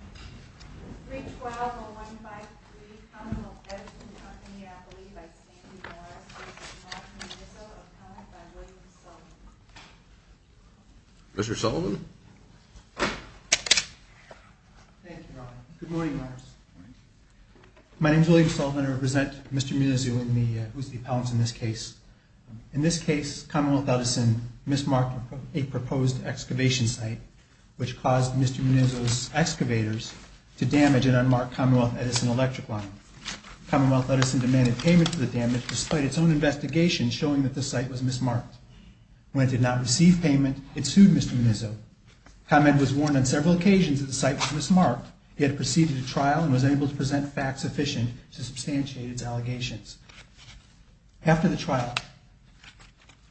3-12-0153 Commonwealth Edison Company, I believe I stand in your honor to present Mr. Munizzo, appointed by William Sullivan. Mr. Sullivan? Thank you, Your Honor. Good morning, Your Honor. My name is William Sullivan. I represent Mr. Munizzo, who is the appellant in this case. In this case, Commonwealth Edison mismarked a proposed excavation site, which caused Mr. Munizzo's excavators to damage an unmarked Commonwealth Edison electric line. Commonwealth Edison demanded payment for the damage, despite its own investigation showing that the site was mismarked. When it did not receive payment, it sued Mr. Munizzo. Comment was worn on several occasions that the site was mismarked. He had proceeded to trial and was able to present facts sufficient to substantiate its allegations. After the trial,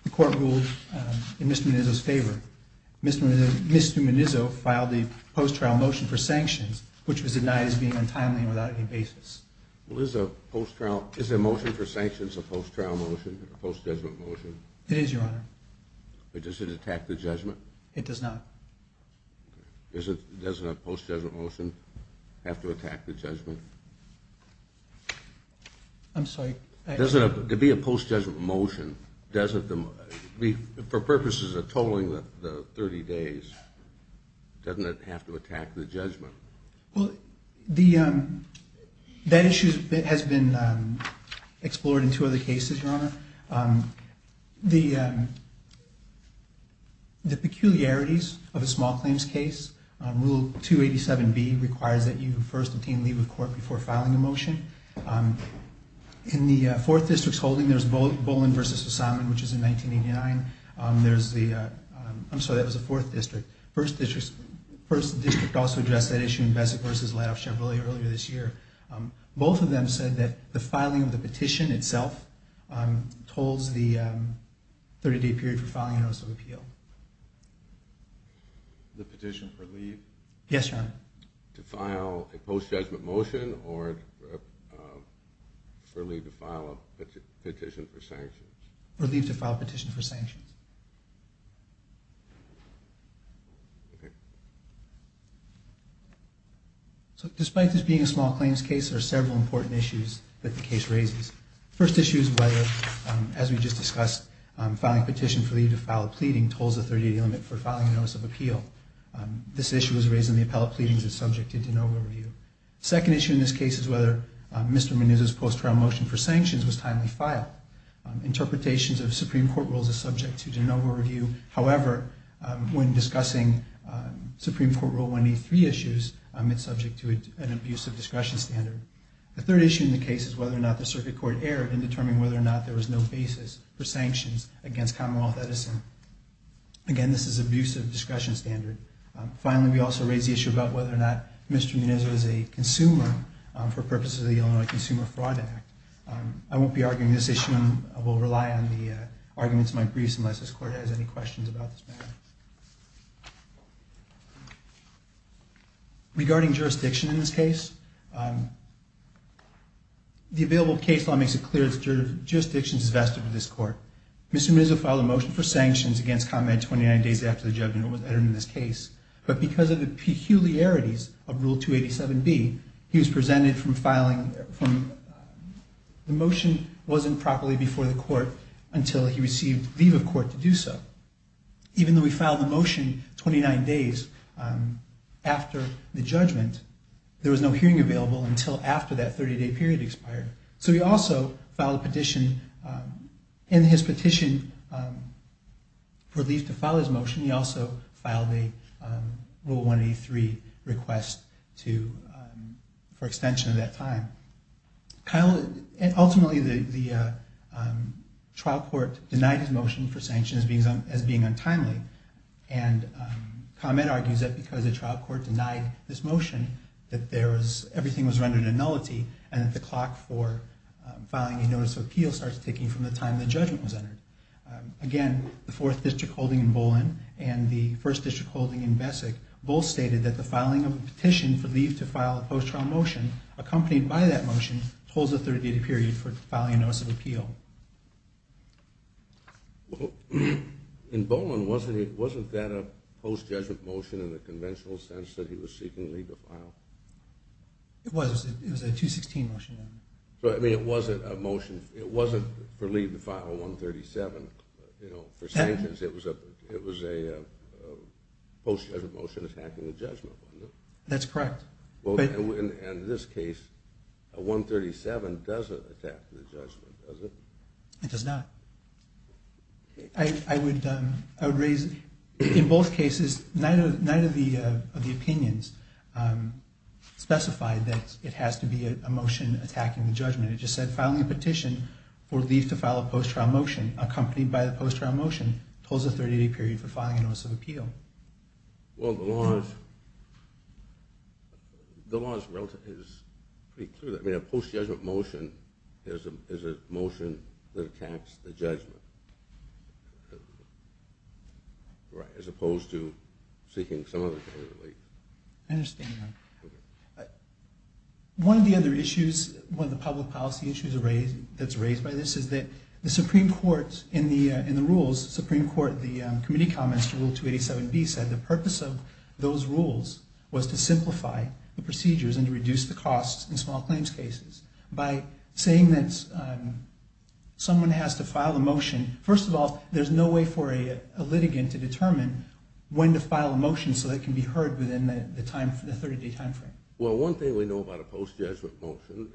the court ruled in Mr. Munizzo's favor. Mr. Munizzo filed a post-trial motion for sanctions, which was denied as being untimely and without any basis. Is a motion for sanctions a post-trial motion, a post-judgment motion? It is, Your Honor. Does it attack the judgment? It does not. Does a post-judgment motion have to attack the judgment? I'm sorry. To be a post-judgment motion, for purposes of tolling the 30 days, doesn't it have to attack the judgment? Well, that issue has been explored in two other cases, Your Honor. The peculiarities of a small claims case, Rule 287B requires that you first obtain leave of court before filing a motion. In the Fourth District's holding, there's Bolin v. O'Simon, which is in 1989. I'm sorry, that was the Fourth District. First District also addressed that issue in Beswick v. Ladoff Chevrolet earlier this year. Both of them said that the filing of the petition itself tolls the 30-day period for filing a notice of appeal. The petition for leave? Yes, Your Honor. To file a post-judgment motion or for leave to file a petition for sanctions? For leave to file a petition for sanctions. Despite this being a small claims case, there are several important issues that the case raises. The first issue is whether, as we just discussed, filing a petition for leave to file a pleading tolls the 30-day limit for filing a notice of appeal. This issue was raised in the appellate pleadings as subject to de novo review. The second issue in this case is whether Mr. Meneuza's post-trial motion for sanctions was timely filed. Interpretations of Supreme Court rules are subject to de novo review. However, when discussing Supreme Court Rule 183 issues, it's subject to an abusive discretion standard. The third issue in the case is whether or not the Circuit Court erred in determining whether or not there was no basis for sanctions against Commonwealth Edison. Again, this is an abusive discretion standard. Finally, we also raised the issue about whether or not Mr. Meneuza is a consumer for purposes of the Illinois Consumer Fraud Act. I won't be arguing this issue. I will rely on the arguments in my briefs unless this Court has any questions about this matter. Regarding jurisdiction in this case, the available case law makes it clear that jurisdiction is vested with this Court. Mr. Meneuza filed a motion for sanctions against ComEd 29 days after the judgment was entered in this case. But because of the peculiarities of Rule 287b, the motion wasn't properly before the Court until he received leave of court to do so. Even though he filed the motion 29 days after the judgment, there was no hearing available until after that 30-day period expired. So he also filed a petition. In his petition for leave to file his motion, he also filed a Rule 183 request for extension of that time. Ultimately, the trial court denied his motion for sanctions as being untimely. And ComEd argues that because the trial court denied this motion, that everything was rendered in nullity and that the clock for filing a notice of appeal starts ticking from the time the judgment was entered. Again, the Fourth District holding in Bolin and the First District holding in Bessig both stated that the filing of a petition for leave to file a post-trial motion, accompanied by that motion, holds a 30-day period for filing a notice of appeal. Well, in Bolin, wasn't that a post-judgment motion in the conventional sense that he was seeking leave to file? It was. It was a 216 motion. I mean, it wasn't a motion for leave to file 137. For sanctions, it was a post-judgment motion attacking the judgment, wasn't it? That's correct. In this case, 137 doesn't attack the judgment, does it? It does not. In both cases, neither of the opinions specified that it has to be a motion attacking the judgment. It just said filing a petition for leave to file a post-trial motion, accompanied by the post-trial motion, holds a 30-day period for filing a notice of appeal. Well, the law is pretty clear that a post-judgment motion is a motion that attacks the judgment, as opposed to seeking some other kind of leave. I understand that. One of the other issues, one of the public policy issues that's raised by this is that the Supreme Court, in the rules, the committee comments to Rule 287B said the purpose of those rules was to simplify the procedures and to reduce the costs in small claims cases. By saying that someone has to file a motion, first of all, there's no way for a litigant to determine when to file a motion so that it can be heard within the 30-day time frame. Well, one thing we know about a post-judgment motion,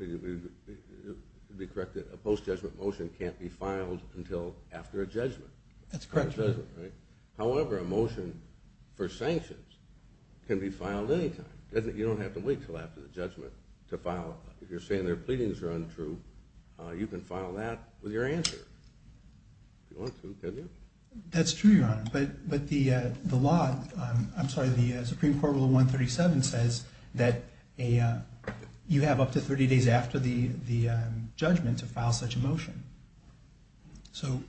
to be corrected, a post-judgment motion can't be filed until after a judgment. That's correct. However, a motion for sanctions can be filed any time. You don't have to wait until after the judgment to file. If you're saying their pleadings are untrue, you can file that with your answer, if you want to, can't you? That's true, Your Honor, but the law, I'm sorry, the Supreme Court Rule 137 says that you have up to 30 days after the judgment to file such a motion. So,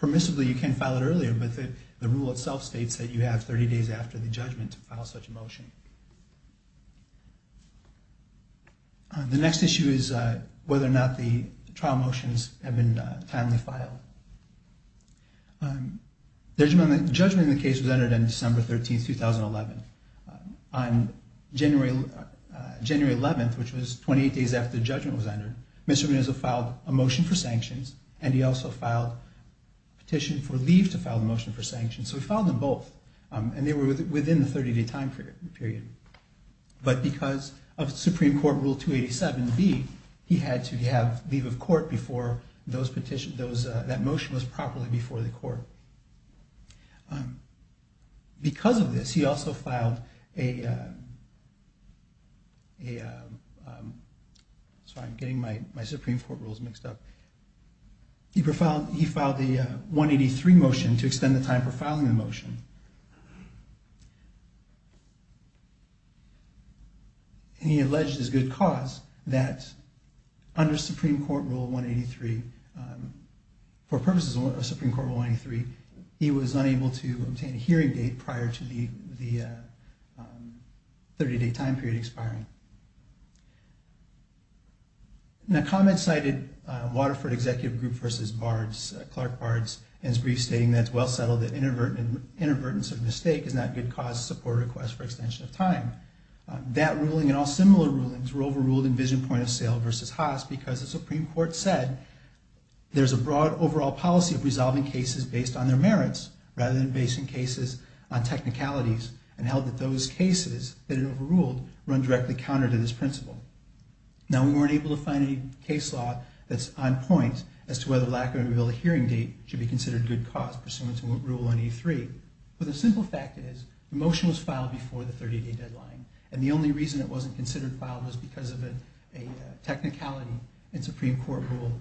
permissibly, you can file it earlier, but the rule itself states that you have 30 days after the judgment to file such a motion. The next issue is whether or not the trial motions have been timely filed. The judgment in the case was entered on December 13, 2011. On January 11th, which was 28 days after the judgment was entered, Mr. Munoz filed a motion for sanctions, and he also filed a petition for leave to file the motion for sanctions. So, he filed them both, and they were within the 30-day time period. But because of Supreme Court Rule 287b, he had to have leave of court before that motion was properly before the court. Because of this, he also filed a... Sorry, I'm getting my Supreme Court rules mixed up. He filed the 183 motion to extend the time for filing the motion, and he alleged as good cause that under Supreme Court Rule 183, for purposes of Supreme Court Rule 183, he was unable to obtain a hearing date prior to the 30-day time period expiring. Now, comments cited Waterford Executive Group v. Bard's, Clark Bard's, in his brief stating that it's well settled that inadvertence of mistake is not a good cause to support a request for extension of time. That ruling and all similar rulings were overruled in Vision Point of Sale v. Haas because the Supreme Court said there's a broad overall policy of resolving cases based on their merits rather than basing cases on technicalities, and held that those cases that it overruled run directly counter to this principle. Now, we weren't able to find any case law that's on point as to whether lack of a hearing date should be considered good cause pursuant to Rule 183. But the simple fact is the motion was filed before the 30-day deadline, and the only reason it wasn't considered filed was because of a technicality in Supreme Court Rule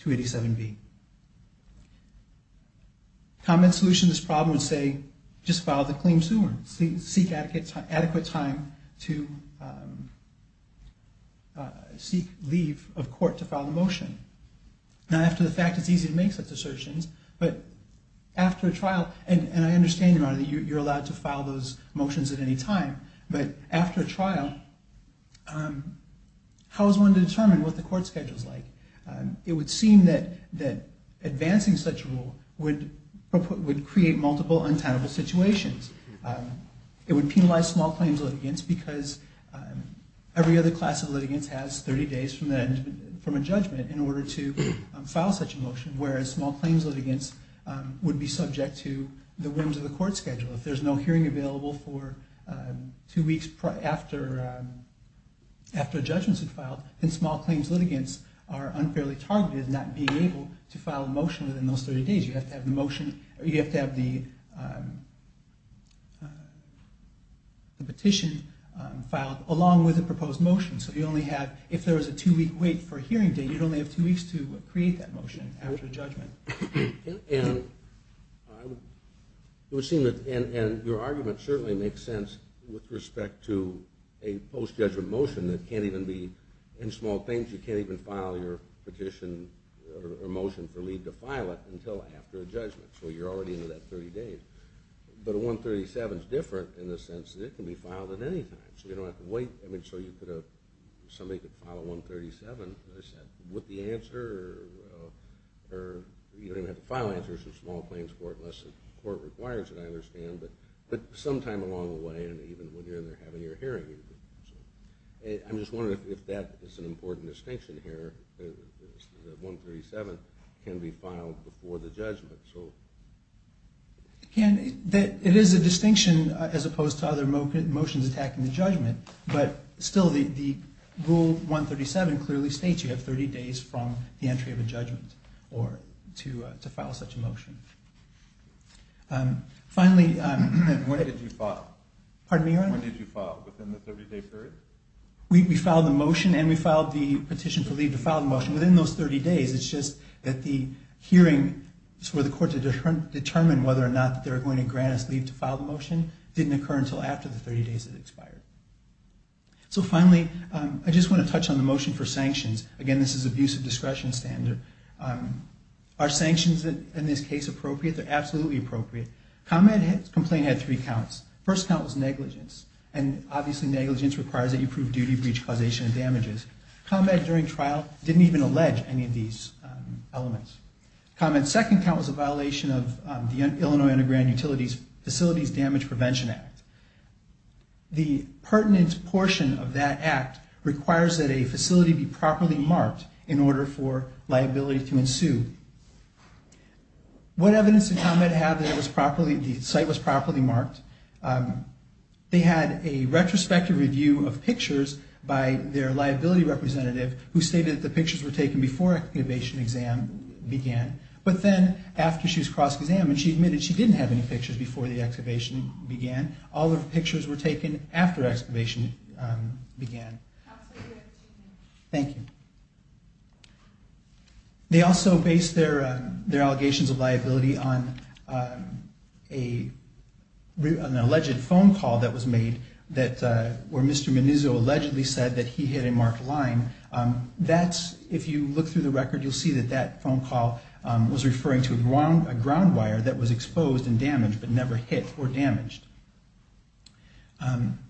287b. Comment solution to this problem would say, just file the claim sooner. Seek adequate time to seek leave of court to file the motion. Not after the fact it's easy to make such assertions, but after a trial, and I understand, Your Honor, that you're allowed to file those motions at any time, but after a trial, how is one to determine what the court schedule is like? It would seem that advancing such a rule would create multiple untenable situations. It would penalize small claims litigants because every other class of litigants has 30 days from a judgment in order to file such a motion, whereas small claims litigants would be subject to the whims of the court schedule. If there's no hearing available for two weeks after a judgment's been filed, then small claims litigants are unfairly targeted in not being able to file a motion within those 30 days. You have to have the petition filed along with the proposed motion, so if there was a two-week wait for a hearing date, you'd only have two weeks to create that motion after a judgment. And your argument certainly makes sense with respect to a post-judgment motion that can't even be in small claims. You can't even file your petition or motion for leave to file it until after a judgment, so you're already into that 30 days. But a 137 is different in the sense that it can be filed at any time, so you don't have to wait. I mean, so somebody could file a 137, as I said, with the answer, or you don't even have to file answers for small claims court unless the court requires it, I understand, but sometime along the way and even when you're in there having your hearing. I'm just wondering if that is an important distinction here, that 137 can be filed before the judgment. It is a distinction as opposed to other motions attacking the judgment, but still the Rule 137 clearly states you have 30 days from the entry of a judgment to file such a motion. Finally... When did you file? Pardon me, Your Honor? When did you file, within the 30-day period? We filed the motion and we filed the petition for leave to file the motion. Within those 30 days, it's just that the hearing for the court to determine whether or not they're going to grant us leave to file the motion didn't occur until after the 30 days had expired. So finally, I just want to touch on the motion for sanctions. Again, this is abuse of discretion standard. Are sanctions in this case appropriate? They're absolutely appropriate. Combat complaint had three counts. First count was negligence, and obviously negligence requires that you prove duty, breach, causation, and damages. Combat during trial didn't even allege any of these elements. Combat's second count was a violation of the Illinois Underground Utilities Facilities Damage Prevention Act. The pertinent portion of that act requires that a facility be properly marked in order for liability to ensue. What evidence did Combat have that the site was properly marked? They had a retrospective review of pictures by their liability representative, who stated that the pictures were taken before excavation exam began. But then, after she was cross-examined, she admitted she didn't have any pictures before the excavation began. All of the pictures were taken after excavation began. Thank you. They also based their allegations of liability on an alleged phone call that was made where Mr. Menizzo allegedly said that he hit a marked line. If you look through the record, you'll see that that phone call was referring to a ground wire that was exposed and damaged but never hit or damaged.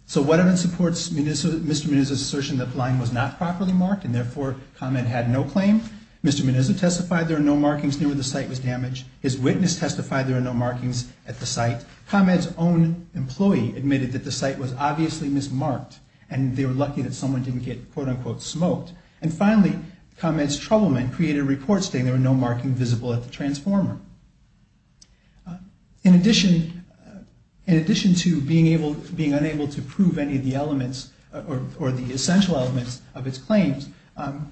So what evidence supports Mr. Menizzo's assertion that the line was not properly marked and therefore Combat had no claim? Mr. Menizzo testified there were no markings near where the site was damaged. His witness testified there were no markings at the site. Combat's own employee admitted that the site was obviously mismarked and they were lucky that someone didn't get quote-unquote smoked. And finally, Combat's troubleman created a report stating there were no markings visible at the transformer. In addition to being unable to prove any of the elements or the essential elements of its claims,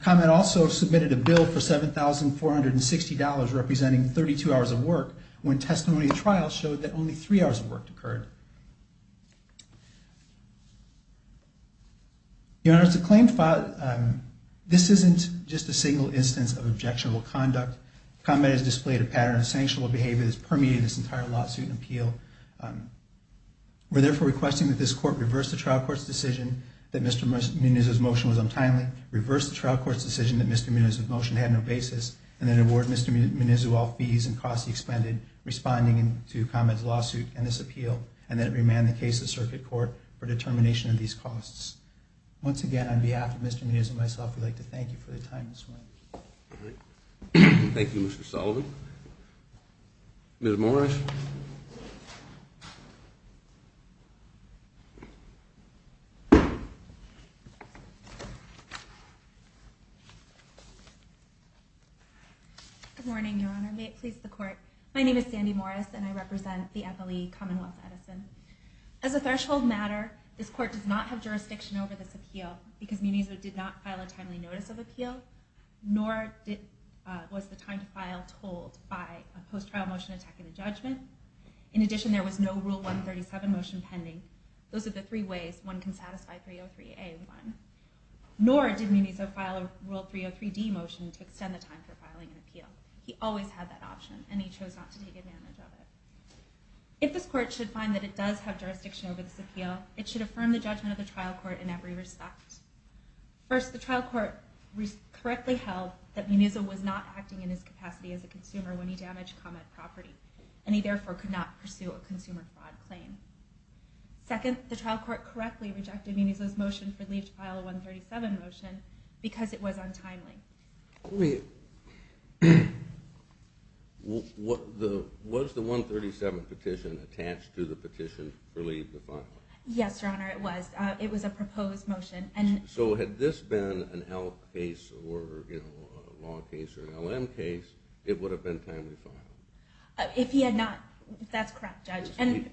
Combat also submitted a bill for $7,460 representing 32 hours of work when testimony at trial showed that only three hours of work occurred. Your Honor, as the claim filed, this isn't just a single instance of objectionable conduct. Combat has displayed a pattern of sanctionable behavior that has permeated this entire lawsuit and appeal. We're therefore requesting that this Court reverse the trial court's decision that Mr. Menizzo's motion was untimely, reverse the trial court's decision that Mr. Menizzo's motion had no basis, and then award Mr. Menizzo all fees and costs he expended responding to Combat's lawsuit and this appeal, and that it remain the case of the Circuit Court for determination of these costs. Once again, on behalf of Mr. Menizzo and myself, we'd like to thank you for your time this morning. Thank you, Mr. Sullivan. Ms. Morris. Good morning, Your Honor. May it please the Court. My name is Sandy Morris, and I represent the NLE, Commonwealth Edison. As a threshold matter, this Court does not have jurisdiction over this appeal because Menizzo did not file a timely notice of appeal, nor was the time to file told by a post-trial motion attacking the judgment. In addition, there was no Rule 137 motion pending. Those are the three ways one can satisfy 303A1. Nor did Menizzo file a Rule 303D motion to extend the time for filing an appeal. He always had that option, and he chose not to take advantage of it. In this trial, it should affirm the judgment of the trial court in every respect. First, the trial court correctly held that Menizzo was not acting in his capacity as a consumer when he damaged Combat property, and he therefore could not pursue a consumer fraud claim. Second, the trial court correctly rejected Menizzo's motion for leave to file a 137 motion because it was untimely. Was the 137 petition attached to the petition for leave to file? Yes, Your Honor, it was. It was a proposed motion. So had this been an L case or a law case or an LM case, it would have been timely filed? If he had not, that's correct, Judge. In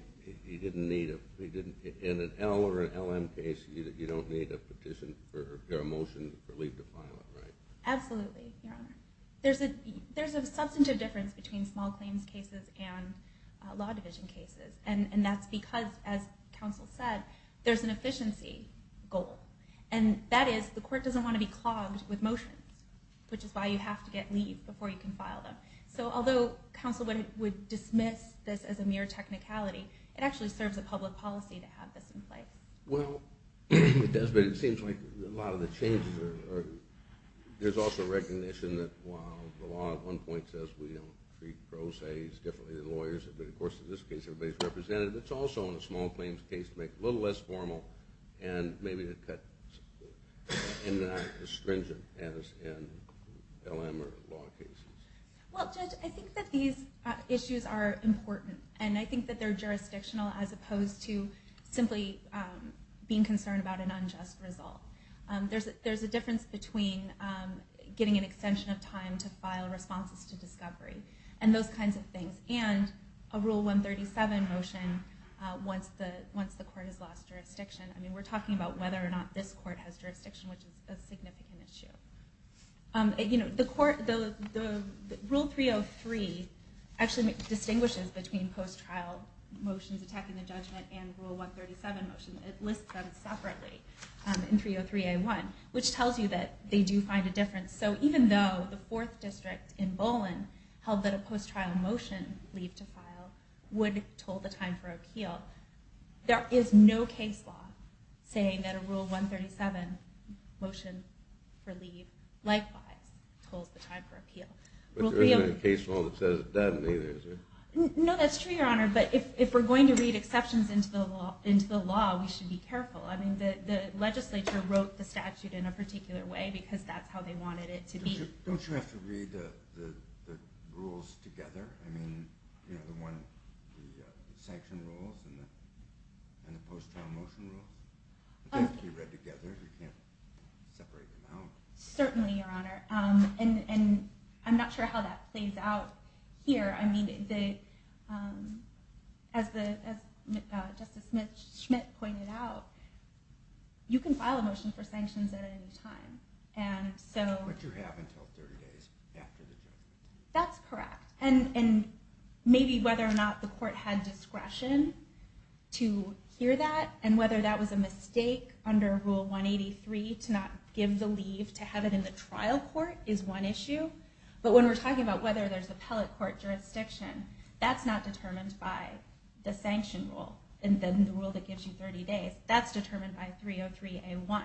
an L or an LM case, you don't need a petition or a motion for leave to file, right? Absolutely, Your Honor. There's a substantive difference between small claims cases and law division cases, and that's because, as counsel said, there's an efficiency goal. And that is, the court doesn't want to be clogged with motions, which is why you have to get leave before you can file them. So although counsel would dismiss this as a mere technicality, it actually serves a public policy to have this in place. Well, it does, but it seems like a lot of the changes are – there's also recognition that while the law at one point says we don't treat pro ses differently than lawyers, but of course in this case everybody's represented, it's also in a small claims case to make it a little less formal and maybe to cut – and not as stringent as in LM or law cases. Well, Judge, I think that these issues are important, and I think that they're jurisdictional as opposed to simply being concerned about an unjust result. There's a difference between getting an extension of time to file responses to discovery and those kinds of things, and a Rule 137 motion once the court has lost jurisdiction. I mean, we're talking about whether or not this court has jurisdiction, which is a significant issue. Rule 303 actually distinguishes between post-trial motions attacking the judgment and Rule 137 motions. It lists them separately in 303A1, which tells you that they do find a difference. So even though the Fourth District in Bolin held that a post-trial motion leave to file would toll the time for appeal, there is no case law saying that a Rule 137 motion for leave likewise tolls the time for appeal. But there isn't a case law that says it doesn't either, is there? No, that's true, Your Honor, but if we're going to read exceptions into the law, we should be careful. I mean, the legislature wrote the statute in a particular way because that's how they wanted it to be. Don't you have to read the rules together? I mean, the sanction rules and the post-trial motion rules? They have to be read together. You can't separate them out. Certainly, Your Honor, and I'm not sure how that plays out here. I mean, as Justice Schmidt pointed out, you can file a motion for sanctions at any time. But you have until 30 days after the judgment. That's correct, and maybe whether or not the court had discretion to hear that and whether that was a mistake under Rule 183 to not give the leave to have it in the trial court is one issue. But when we're talking about whether there's appellate court jurisdiction, that's not determined by the sanction rule and then the rule that gives you 30 days. That's determined by 303A1,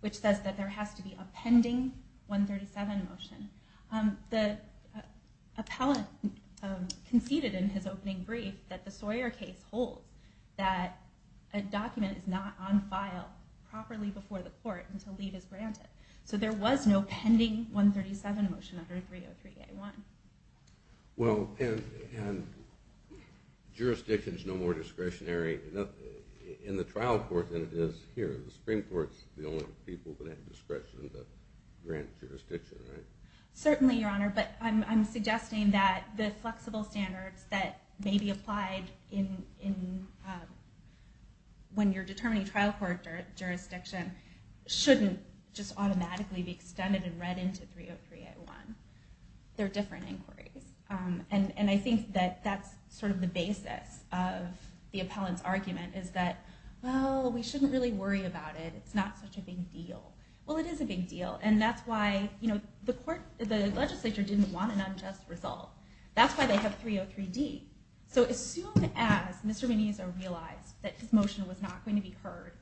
which says that there has to be a pending 137 motion. The appellate conceded in his opening brief that the Sawyer case holds that a document is not on file properly before the court until leave is granted. So there was no pending 137 motion under 303A1. Well, and jurisdiction is no more discretionary in the trial court than it is here. The Supreme Court is the only people that have discretion to grant jurisdiction, right? Certainly, Your Honor, but I'm suggesting that the flexible standards that may be applied when you're determining trial court jurisdiction shouldn't just automatically be extended and read into 303A1. They're different inquiries. And I think that that's sort of the basis of the appellant's argument, is that, well, we shouldn't really worry about it. It's not such a big deal. Well, it is a big deal, and that's why the legislature didn't want an unjust result. That's why they have 303D. So as soon as Mr. Meneza realized that his motion was not going to be heard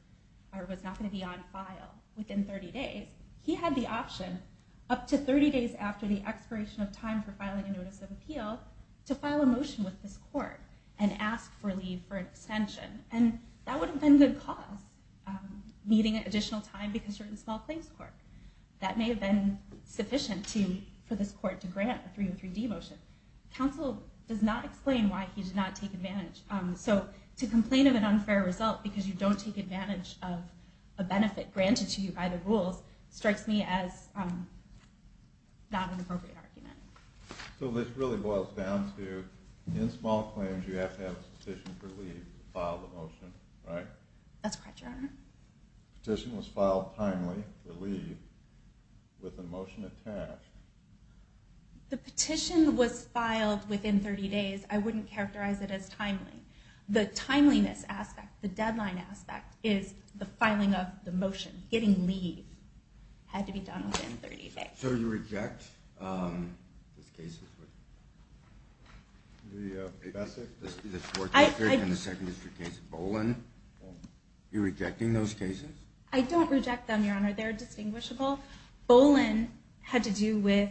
or was not going to be on file within 30 days, he had the option, up to 30 days after the expiration of time for filing a notice of appeal, to file a motion with this court and ask for leave for an extension. And that would have been good cause, needing additional time because you're in a small claims court. That may have been sufficient for this court to grant the 303D motion. Counsel does not explain why he did not take advantage. So to complain of an unfair result because you don't take advantage of a benefit granted to you by the rules, strikes me as not an appropriate argument. So this really boils down to, in small claims, you have to have a petition for leave to file the motion, right? That's correct, Your Honor. Petition was filed timely for leave with a motion attached. The petition was filed within 30 days. I wouldn't characterize it as timely. The timeliness aspect, the deadline aspect, is the filing of the motion. Getting leave had to be done within 30 days. So you reject the cases with the 4th District and the 2nd District cases? Boland? You're rejecting those cases? I don't reject them, Your Honor. They're distinguishable. Boland had to do with...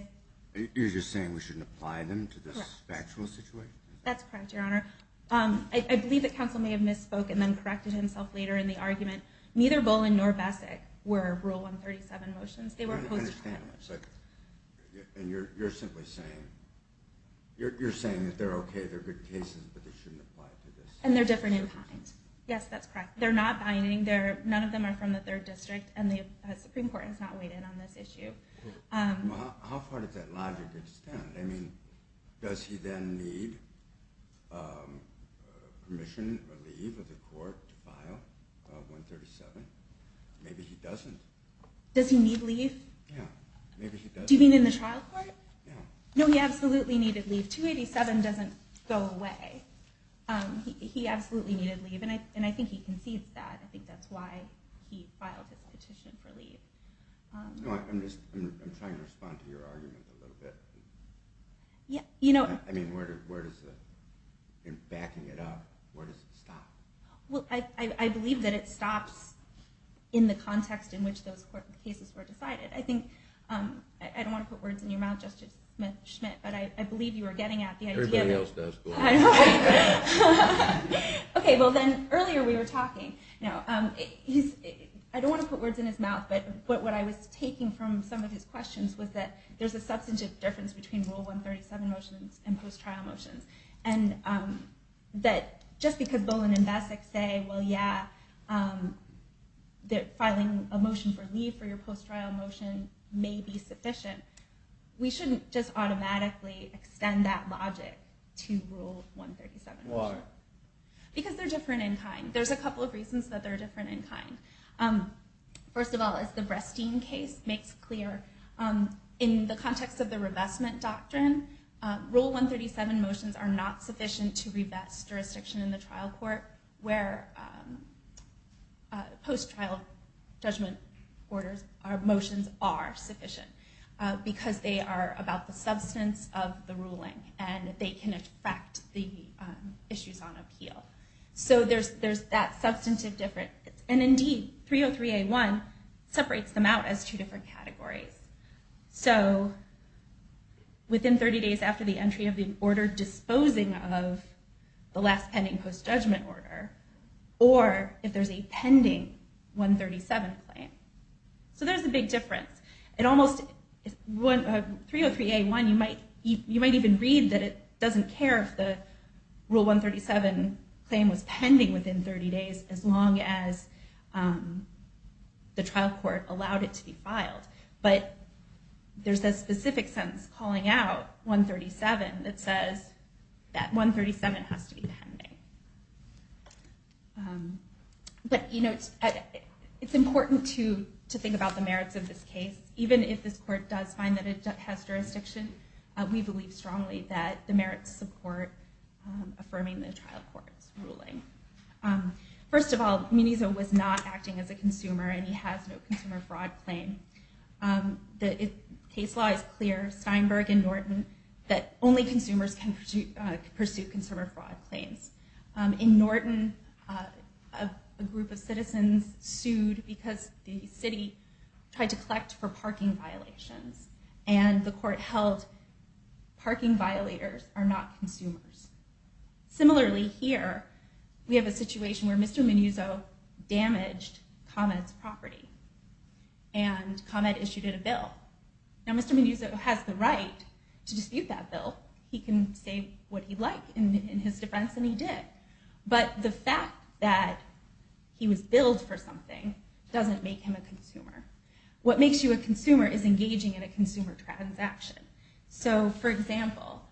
You're just saying we shouldn't apply them to this factual situation? That's correct, Your Honor. I believe that counsel may have misspoke and then corrected himself later in the argument. Neither Boland nor Bessic were Rule 137 motions. They were opposed to... I understand that. And you're simply saying... You're saying that they're okay, they're good cases, but they shouldn't apply to this? And they're different in kind. Yes, that's correct. They're not binding. None of them are from the 3rd District, and the Supreme Court has not weighed in on this issue. How far does that logic extend? I mean, does he then need permission or leave of the court to file 137? Maybe he doesn't. Does he need leave? Yeah. Maybe he doesn't. Do you mean in the trial court? Yeah. No, he absolutely needed leave. 287 doesn't go away. He absolutely needed leave, and I think he concedes that. I think that's why he filed his petition for leave. I'm trying to respond to your argument a little bit. You know... I mean, where does the... You're backing it up. Where does it stop? I believe that it stops in the context in which those cases were decided. I think... I don't want to put words in your mouth, Justice Schmidt, but I believe you were getting at the idea... Everybody else does. I know. Okay, well then, earlier we were talking. I don't want to put words in his mouth, but what I was taking from some of his questions was that there's a substantive difference between Rule 137 motions and post-trial motions, and that just because Bolin and Bessick say, well, yeah, filing a motion for leave for your post-trial motion may be sufficient, we shouldn't just automatically extend that logic to Rule 137. Why? Because they're different in kind. There's a couple of reasons that they're different in kind. First of all, as the Bresteen case makes clear, in the context of the revestment doctrine, Rule 137 motions are not sufficient to revest jurisdiction in the trial court where post-trial judgment orders or motions are sufficient, because they are about the substance of the ruling, and they can affect the issues on appeal. So there's that substantive difference. And indeed, 303A1 separates them out as two different categories. So within 30 days after the entry of the order disposing of the last pending post-judgment order, or if there's a pending 137 claim. So there's a big difference. 303A1, you might even read that it doesn't care if the Rule 137 claim was pending within 30 days as long as the trial court allowed it to be filed. But there's a specific sentence calling out 137 that says that 137 has to be pending. But it's important to think about the merits of this case. Even if this court does find that it has jurisdiction, we believe strongly that the merits support affirming the trial court's ruling. First of all, Munizzo was not acting as a consumer, and he has no consumer fraud claim. The case law is clear, Steinberg and Norton, that only consumers can pursue consumer fraud claims. In Norton, a group of citizens sued because the city tried to collect for parking violations, and the court held parking violators are not consumers. Similarly here, we have a situation where Mr. Munizzo damaged ComEd's property, and ComEd issued it a bill. Now, Mr. Munizzo has the right to dispute that bill. He can say what he'd like in his defense, and he did. But the fact that he was billed for something doesn't make him a consumer. What makes you a consumer is engaging in a consumer transaction. For example,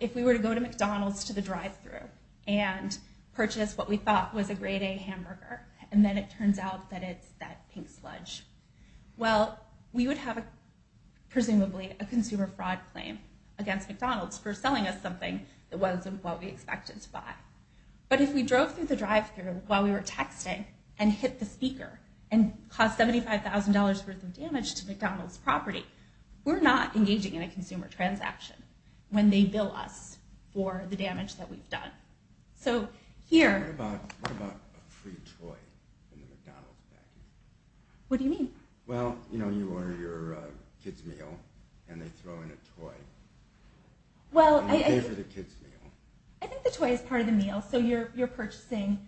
if we were to go to McDonald's to the drive-thru and purchase what we thought was a grade A hamburger, and then it turns out that it's that pink sludge, well, we would have, presumably, a consumer fraud claim against McDonald's for selling us something that wasn't what we expected to buy. But if we drove through the drive-thru while we were texting, and hit the speaker, and caused $75,000 worth of damage to McDonald's property, we're not engaging in a consumer transaction when they bill us for the damage that we've done. What about a free toy in the McDonald's package? What do you mean? Well, you know, you order your kid's meal, and they throw in a toy, and you pay for the kid's meal. I think the toy is part of the meal, so you're purchasing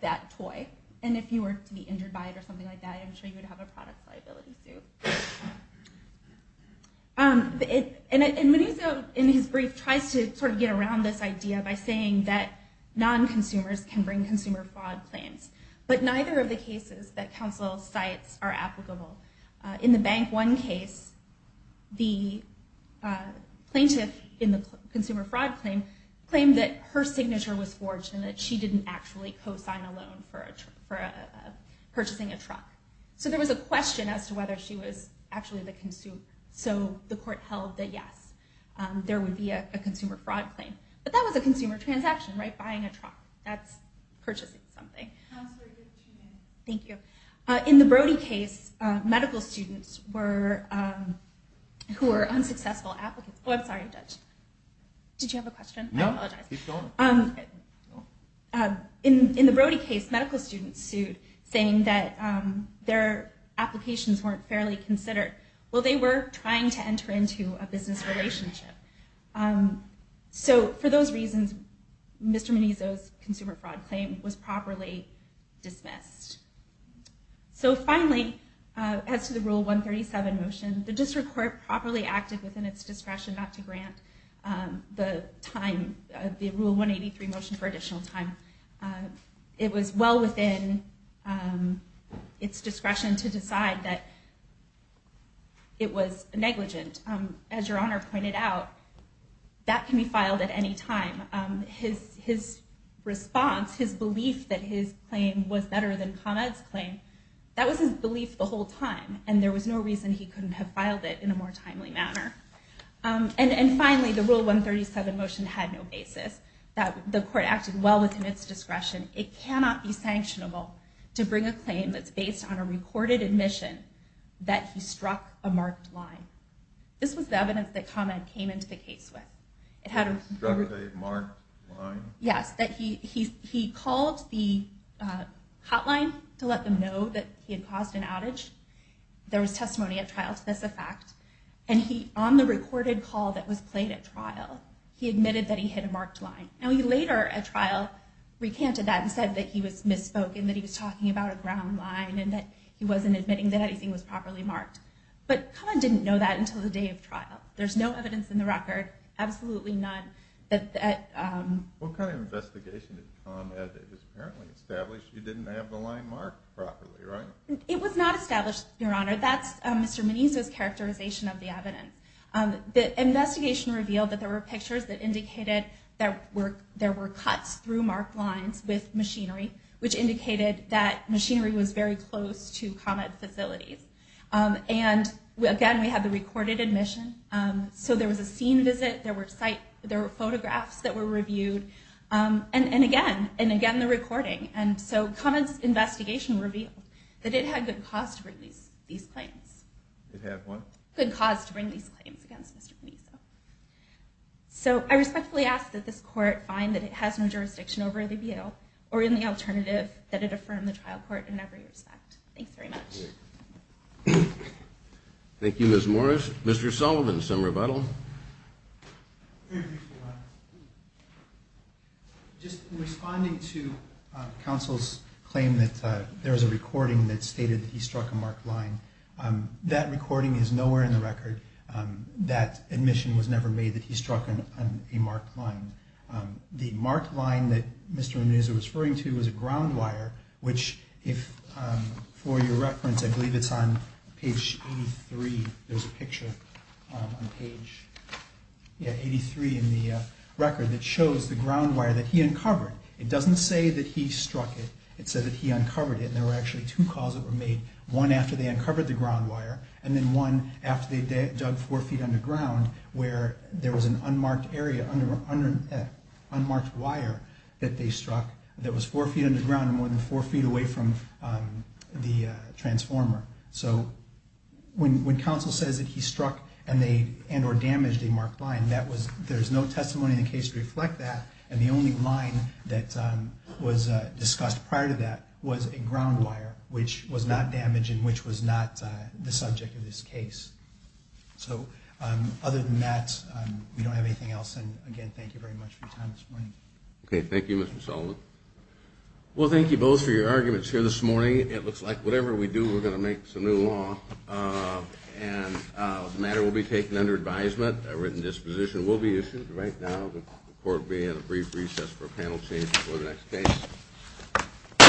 that toy. And if you were to be injured by it or something like that, I'm sure you would have a product liability suit. And Manuzo, in his brief, tries to sort of get around this idea by saying that non-consumers can bring consumer fraud claims, but neither of the cases that counsel cites are applicable. In the Bank One case, the plaintiff in the consumer fraud claim claimed that her signature was forged, and that she didn't actually co-sign a loan for purchasing a truck. So there was a question as to whether she was actually the consumer. So the court held that yes, there would be a consumer fraud claim. But that was a consumer transaction, right? Buying a truck, that's purchasing something. Thank you. In the Brody case, medical students who were unsuccessful applicants... Oh, I'm sorry, Judge. Did you have a question? No, keep going. In the Brody case, medical students sued, saying that their applications weren't fairly considered. Well, they were trying to enter into a business relationship. So for those reasons, Mr. Manuzo's consumer fraud claim was properly dismissed. So finally, as to the Rule 137 motion, the district court properly acted within its discretion not to grant the Rule 183 motion for additional time. It was well within its discretion to decide that it was negligent. As Your Honor pointed out, that can be filed at any time. His response, his belief that his claim was better than Con Ed's claim, that was his belief the whole time, and there was no reason he couldn't have filed it in a more timely manner. And finally, the Rule 137 motion had no basis. The court acted well within its discretion. It cannot be sanctionable to bring a claim that's based on a recorded admission that he struck a marked line. This was the evidence that Con Ed came into the case with. Struck a marked line? Yes. He called the hotline to let them know that he had caused an outage. There was testimony at trial to this effect. And on the recorded call that was played at trial, he admitted that he hit a marked line. Now, later at trial, he recanted that and said that he was misspoken, that he was talking about a ground line, and that he wasn't admitting that anything was properly marked. But Con Ed didn't know that until the day of trial. There's no evidence in the record, absolutely none, What kind of investigation did Con Ed have? It was apparently established you didn't have the line marked properly, right? It was not established, Your Honor. That's Mr. Meniz's characterization of the evidence. The investigation revealed that there were pictures that indicated that there were cuts through marked lines with machinery, which indicated that machinery was very close to Con Ed's facilities. And, again, we had the recorded admission. So there was a scene visit. There were photographs that were reviewed. And, again, the recording. And so Con Ed's investigation revealed that it had good cause to bring these claims. It had what? Good cause to bring these claims against Mr. Meniz. So I respectfully ask that this Court find that it has no jurisdiction over the appeal, or in the alternative, that it affirm the trial court in every respect. Thanks very much. Thank you, Ms. Morris. Mr. Sullivan, some rebuttal. Just responding to counsel's claim that there was a recording that stated he struck a marked line. That recording is nowhere in the record. That admission was never made that he struck a marked line. The marked line that Mr. Meniz was referring to was a ground wire, which, for your reference, I believe it's on page 83. There's a picture on page 83 in the record that shows the ground wire that he uncovered. It doesn't say that he struck it. It said that he uncovered it, and there were actually two calls that were made. One after they uncovered the ground wire, and then one after they dug four feet underground where there was an unmarked area, four feet away from the transformer. So when counsel says that he struck and or damaged a marked line, there's no testimony in the case to reflect that, and the only line that was discussed prior to that was a ground wire, which was not damaged and which was not the subject of this case. So other than that, we don't have anything else. And, again, thank you very much for your time this morning. Okay, thank you, Mr. Sullivan. Well, thank you both for your arguments here this morning. It looks like whatever we do, we're going to make some new law, and the matter will be taken under advisement. A written disposition will be issued right now. The court will be at a brief recess for a panel change before the next case.